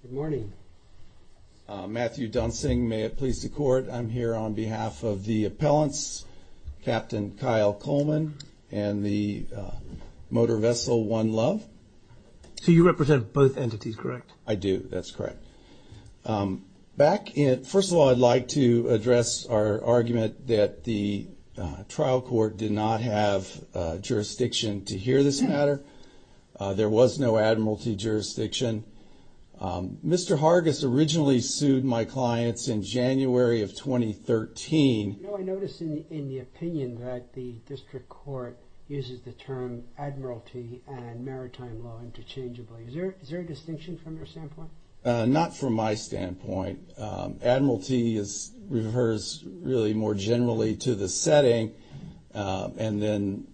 Good morning, Matthew Dunsing. May it please the court. I'm here on behalf of the appellants, Captain Kyle Coleman and the motor vessel One Love. So you represent both entities, correct? I do. That's correct. First of all, I'd like to address our argument that the trial court did not have jurisdiction to hear this matter. There was no admiralty jurisdiction. Mr. Hargus originally sued my clients in January of 2013. I noticed in the opinion that the district court uses the term admiralty and maritime law interchangeably. Is there a distinction from your standpoint? Not from my standpoint. Admiralty refers really more generally to the setting, and then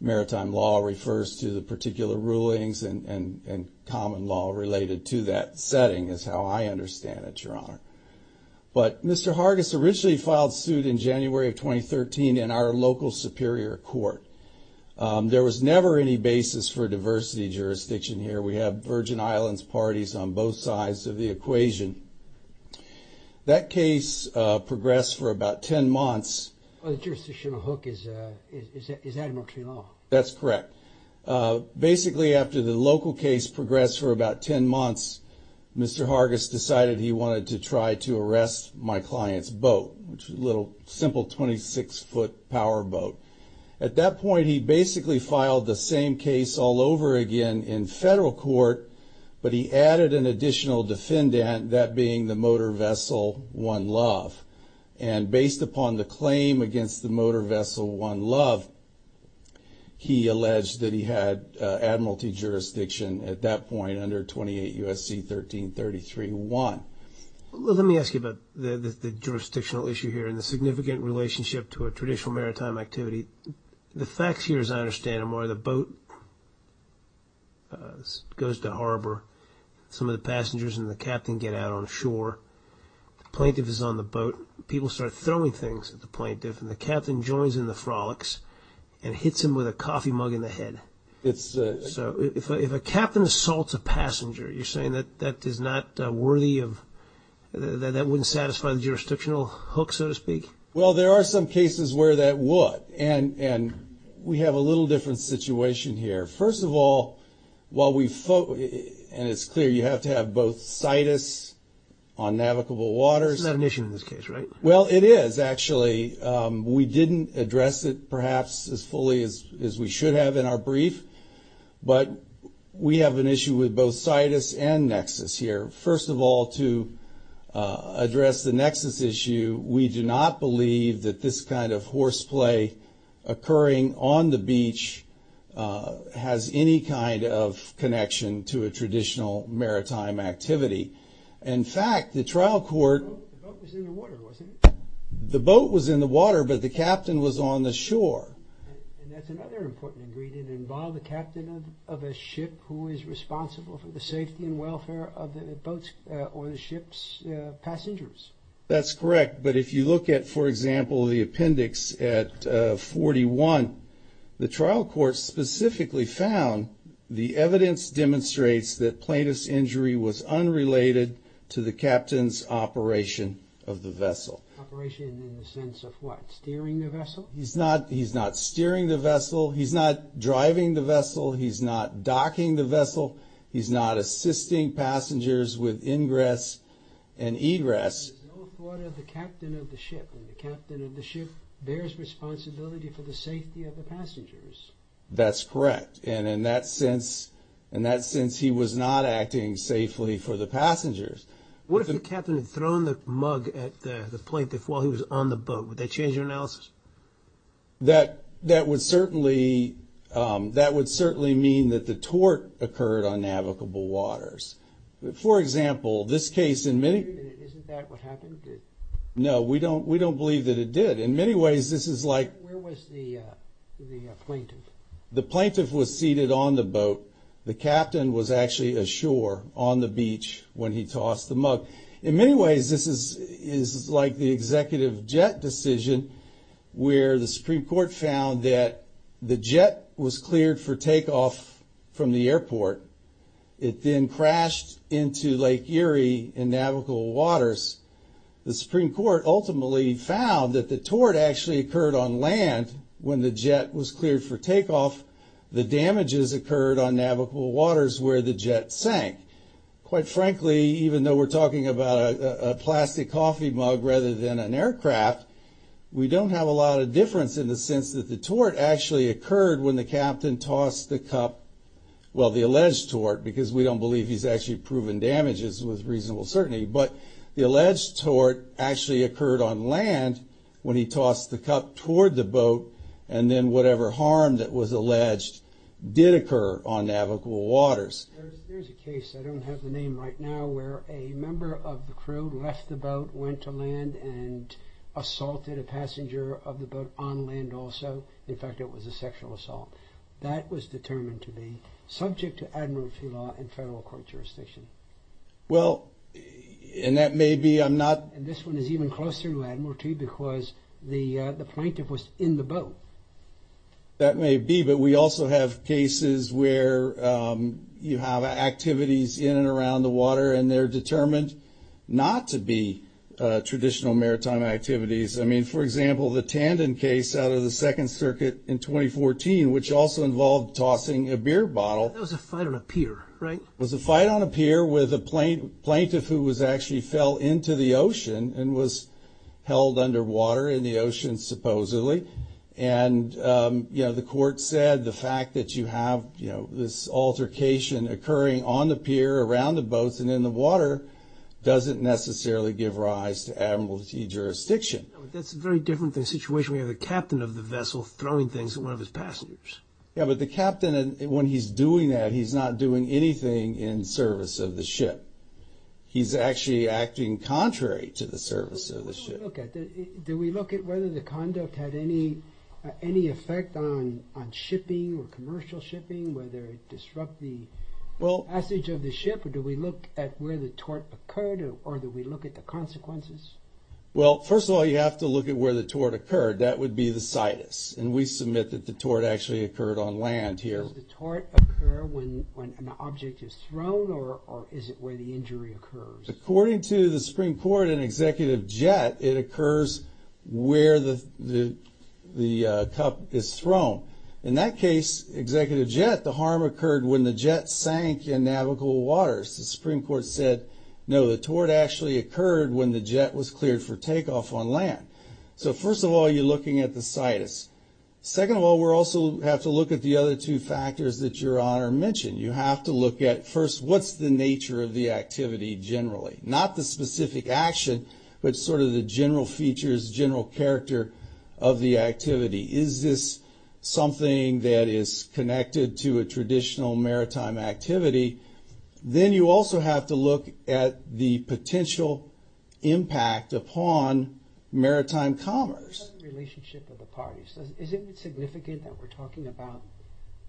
maritime law refers to the particular rulings and common law related to that setting is how I understand it, Your Honor. But Mr. Hargus originally filed suit in January of 2013 in our local superior court. There was never any basis for diversity jurisdiction here. We have Virgin Islands parties on both sides of the equation. That case progressed for about 10 months. The jurisdictional hook is admiralty law. That's correct. Basically, after the local case progressed for about 10 months, Mr. Hargus decided he wanted to try to arrest my client's boat, which was a little simple 26-foot power boat. At that point, he basically filed the same case all over again in federal court, but he added an additional defendant, that being the motor vessel One Love. And based upon the claim against the motor vessel One Love, he alleged that he had admiralty jurisdiction at that point under 28 U.S.C. 1333-1. Let me ask you about the jurisdictional issue here and the significant relationship to a traditional maritime activity. The facts here, as I understand them, are the boat goes to harbor. Some of the passengers and the captain get out on shore. Plaintiff is on the boat. People start throwing things at the plaintiff, and the captain joins in the frolics and hits him with a coffee mug in the head. So if a captain assaults a passenger, you're saying that wouldn't satisfy the jurisdictional hook, so to speak? Well, there are some cases where that would, and we have a little different situation here. First of all, and it's clear you have to have both situs on navigable waters. Well, it is, actually. We didn't address it perhaps as fully as we should have in our brief, but we have an issue with both situs and nexus here. First of all, to address the nexus issue, we do not believe that this kind of horseplay occurring on the beach has any kind of connection to a traditional maritime activity. In fact, the trial court... The boat was in the water, wasn't it? The boat was in the water, but the captain was on the shore. And that's another important ingredient. Involve a captain of a ship who is responsible for the safety and welfare of the boat's or the ship's passengers. That's correct. But if you look at, for example, the appendix at 41, the trial court specifically found the evidence demonstrates that plaintiff's injury was unrelated to the captain's operation of the vessel. Operation in the sense of what? Steering the vessel? He's not steering the vessel. He's not driving the vessel. He's not docking the vessel. He's not assisting passengers with ingress and egress. There's no authority of the captain of the ship, and the captain of the ship bears responsibility for the safety of the passengers. That's correct. And in that sense, he was not acting safely for the passengers. What if the captain had thrown the mug at the plaintiff while he was on the boat? Would that change your analysis? That would certainly mean that the tort occurred on navigable waters. For example, this case in many... Isn't that what happened? No, we don't believe that it did. In many ways, this is like... Where was the plaintiff? The plaintiff was seated on the boat. The captain was actually ashore on the beach when he tossed the mug. In many ways, this is like the executive jet decision where the Supreme Court found that the jet was cleared for takeoff from the airport. It then crashed into Lake Erie in navigable waters. The Supreme Court ultimately found that the tort actually occurred on land when the jet was cleared for takeoff. The damages occurred on navigable waters where the jet sank. Quite frankly, even though we're talking about a plastic coffee mug rather than an aircraft, we don't have a lot of difference in the sense that the tort actually occurred when the captain tossed the cup. Well, the alleged tort, because we don't believe he's actually proven damages with reasonable certainty. But the alleged tort actually occurred on land when he tossed the cup toward the boat, and then whatever harm that was alleged did occur on navigable waters. There's a case, I don't have the name right now, where a member of the crew left the boat, went to land, and assaulted a passenger of the boat on land also. In fact, it was a sexual assault. That was determined to be subject to admiralty law in federal court jurisdiction. Well, and that may be, I'm not... And this one is even closer to admiralty because the plaintiff was in the boat. That may be, but we also have cases where you have activities in and around the water, and they're determined not to be traditional maritime activities. I mean, for example, the Tandon case out of the Second Circuit in 2014, which also involved tossing a beer bottle. That was a fight on a pier, right? It was a fight on a pier with a plaintiff who actually fell into the ocean and was held underwater in the ocean, supposedly. And, you know, the court said the fact that you have this altercation occurring on the pier, around the boats, and in the water doesn't necessarily give rise to admiralty jurisdiction. That's very different than a situation where you have the captain of the vessel throwing things at one of his passengers. Yeah, but the captain, when he's doing that, he's not doing anything in service of the ship. He's actually acting contrary to the service of the ship. But what do we look at? Do we look at whether the conduct had any effect on shipping or commercial shipping, whether it disrupt the passage of the ship, or do we look at where the tort occurred, or do we look at the consequences? Well, first of all, you have to look at where the tort occurred. That would be the situs, and we submit that the tort actually occurred on land here. Does the tort occur when an object is thrown, or is it where the injury occurs? According to the Supreme Court in Executive Jet, it occurs where the cup is thrown. In that case, Executive Jet, the harm occurred when the jet sank in navigable waters. The Supreme Court said, no, the tort actually occurred when the jet was cleared for takeoff on land. So, first of all, you're looking at the situs. Second of all, we also have to look at the other two factors that Your Honor mentioned. You have to look at, first, what's the nature of the activity generally? Not the specific action, but sort of the general features, general character of the activity. Is this something that is connected to a traditional maritime activity? Then you also have to look at the potential impact upon maritime commerce. What about the relationship of the parties? Isn't it significant that we're talking about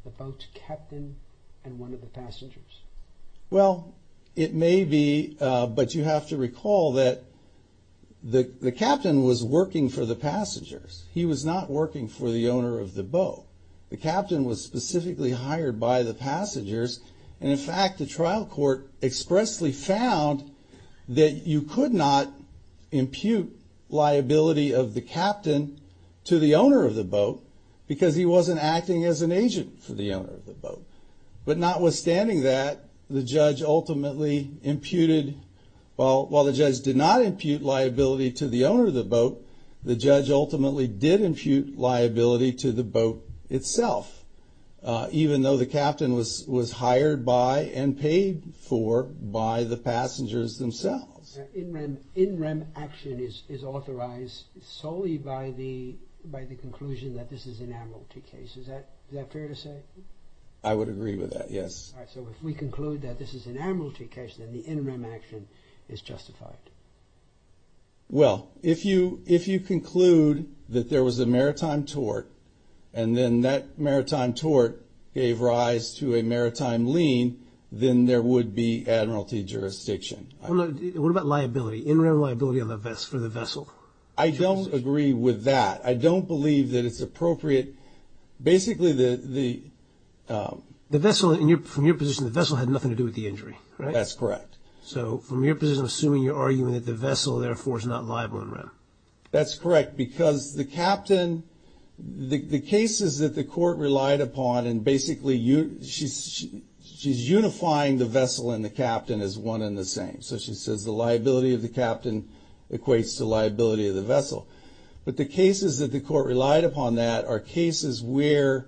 the boat's captain and one of the passengers? Well, it may be, but you have to recall that the captain was working for the passengers. He was not working for the owner of the boat. The captain was specifically hired by the passengers. And, in fact, the trial court expressly found that you could not impute liability of the captain to the owner of the boat because he wasn't acting as an agent for the owner of the boat. But notwithstanding that, the judge ultimately imputed, well, while the judge did not impute liability to the owner of the boat, the judge ultimately did impute liability to the boat itself, even though the captain was hired by and paid for by the passengers themselves. In rem action is authorized solely by the conclusion that this is an admiralty case. Is that fair to say? I would agree with that, yes. All right, so if we conclude that this is an admiralty case, then the in rem action is justified. Well, if you conclude that there was a maritime tort and then that maritime tort gave rise to a maritime lien, then there would be admiralty jurisdiction. What about liability, in rem liability for the vessel? I don't agree with that. I don't believe that it's appropriate. Basically, the vessel, from your position, the vessel had nothing to do with the injury, right? That's correct. So from your position, assuming you're arguing that the vessel, therefore, is not liable in rem. That's correct, because the captain, the cases that the court relied upon, and basically she's unifying the vessel and the captain as one and the same. So she says the liability of the captain equates to liability of the vessel. But the cases that the court relied upon that are cases where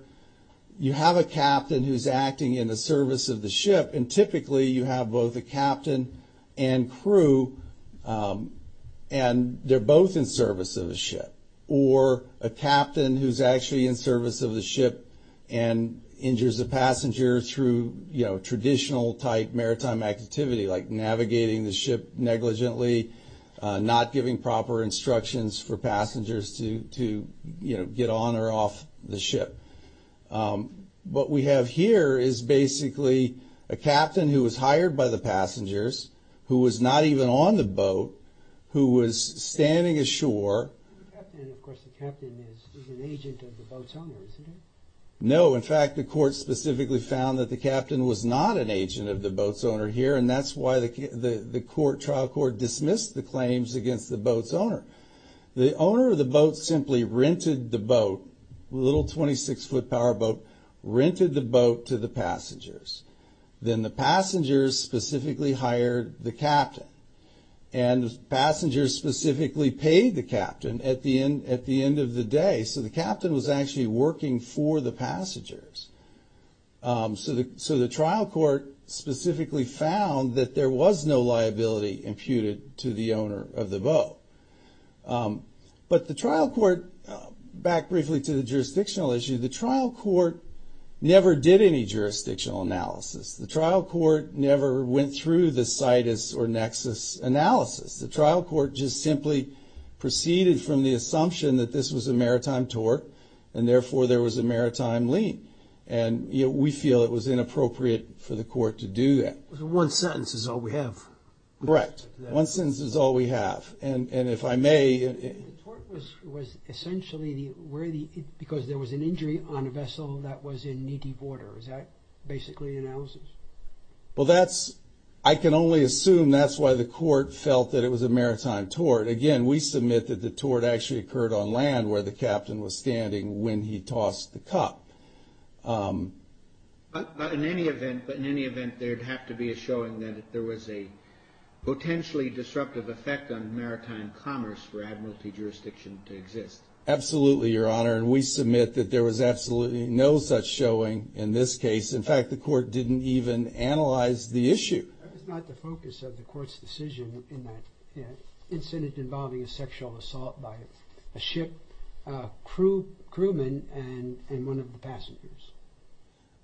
you have a captain who's acting in the service of the ship, and typically you have both a captain and crew, and they're both in service of the ship, or a captain who's actually in service of the ship and injures a passenger through traditional type maritime activity, like navigating the ship negligently, not giving proper instructions for passengers to get on or off the ship. What we have here is basically a captain who was hired by the passengers, who was not even on the boat, who was standing ashore. The captain, of course, the captain is an agent of the boat's owner, isn't he? No, in fact, the court specifically found that the captain was not an agent of the boat's owner here, and that's why the trial court dismissed the claims against the boat's owner. The owner of the boat simply rented the boat, a little 26-foot power boat, rented the boat to the passengers. Then the passengers specifically hired the captain, and passengers specifically paid the captain at the end of the day. So the captain was actually working for the passengers. So the trial court specifically found that there was no liability imputed to the owner of the boat. But the trial court, back briefly to the jurisdictional issue, the trial court never did any jurisdictional analysis. The trial court never went through the situs or nexus analysis. The trial court just simply proceeded from the assumption that this was a maritime tort, and therefore there was a maritime lien, and we feel it was inappropriate for the court to do that. One sentence is all we have. Correct. One sentence is all we have, and if I may. The tort was essentially because there was an injury on a vessel that was in needy water. Is that basically the analysis? Well, I can only assume that's why the court felt that it was a maritime tort. Again, we submit that the tort actually occurred on land where the captain was standing when he tossed the cup. But in any event, there'd have to be a showing that there was a potentially disruptive effect on maritime commerce for admiralty jurisdiction to exist. Absolutely, Your Honor, and we submit that there was absolutely no such showing in this case. In fact, the court didn't even analyze the issue. That was not the focus of the court's decision in that incident involving a sexual assault by a ship. A crewman and one of the passengers.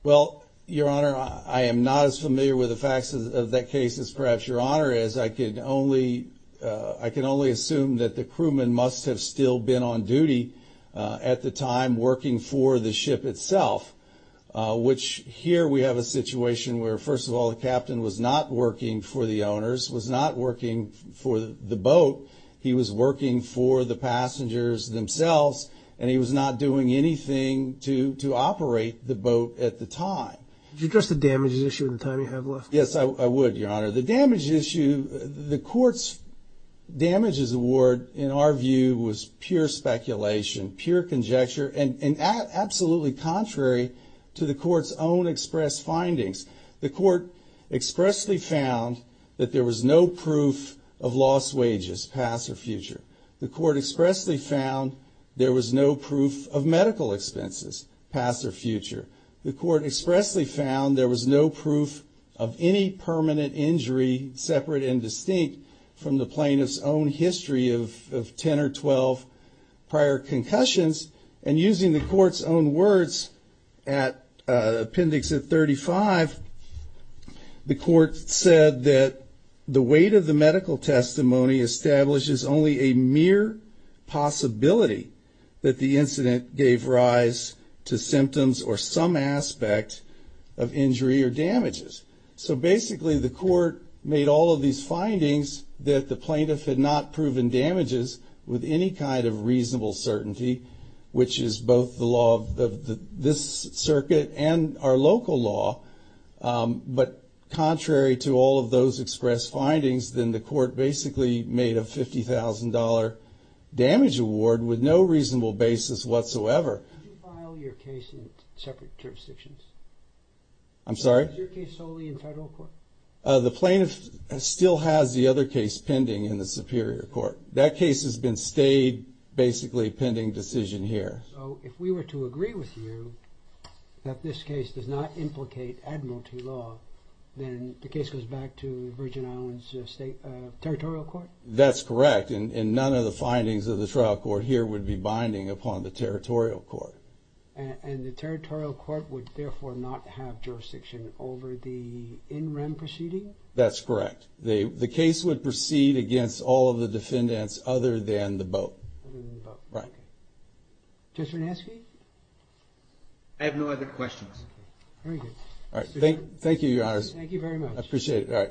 Well, Your Honor, I am not as familiar with the facts of that case as perhaps Your Honor is. I can only assume that the crewman must have still been on duty at the time working for the ship itself, which here we have a situation where, first of all, the captain was not working for the owners, was not working for the boat, he was working for the passengers themselves, and he was not doing anything to operate the boat at the time. Did you address the damages issue at the time you have left? Yes, I would, Your Honor. The damages issue, the court's damages award, in our view, was pure speculation, pure conjecture, and absolutely contrary to the court's own express findings. The court expressly found that there was no proof of lost wages, past or future. The court expressly found there was no proof of medical expenses, past or future. The court expressly found there was no proof of any permanent injury, separate and distinct, from the plaintiff's own history of 10 or 12 prior concussions, and using the court's own words at appendix 35, the court said that the weight of the medical testimony establishes only a mere possibility that the incident gave rise to symptoms or some aspect of injury or damages. So basically, the court made all of these findings that the plaintiff had not proven damages with any kind of reasonable certainty, which is both the law of this circuit and our local law, but contrary to all of those express findings, then the court basically made a $50,000 damage award with no reasonable basis whatsoever. Did you file your case in separate jurisdictions? I'm sorry? Is your case solely in federal court? The plaintiff still has the other case pending in the superior court. That case has been stayed basically pending decision here. So if we were to agree with you that this case does not implicate admiralty law, then the case goes back to Virgin Islands Territorial Court? That's correct, and none of the findings of the trial court here would be binding upon the territorial court. And the territorial court would therefore not have jurisdiction over the in-rem proceeding? That's correct. The case would proceed against all of the defendants other than the boat. Other than the boat. Right. Judge Vernaschi? I have no other questions. Very good. Thank you, Your Honor. Thank you very much. I appreciate it.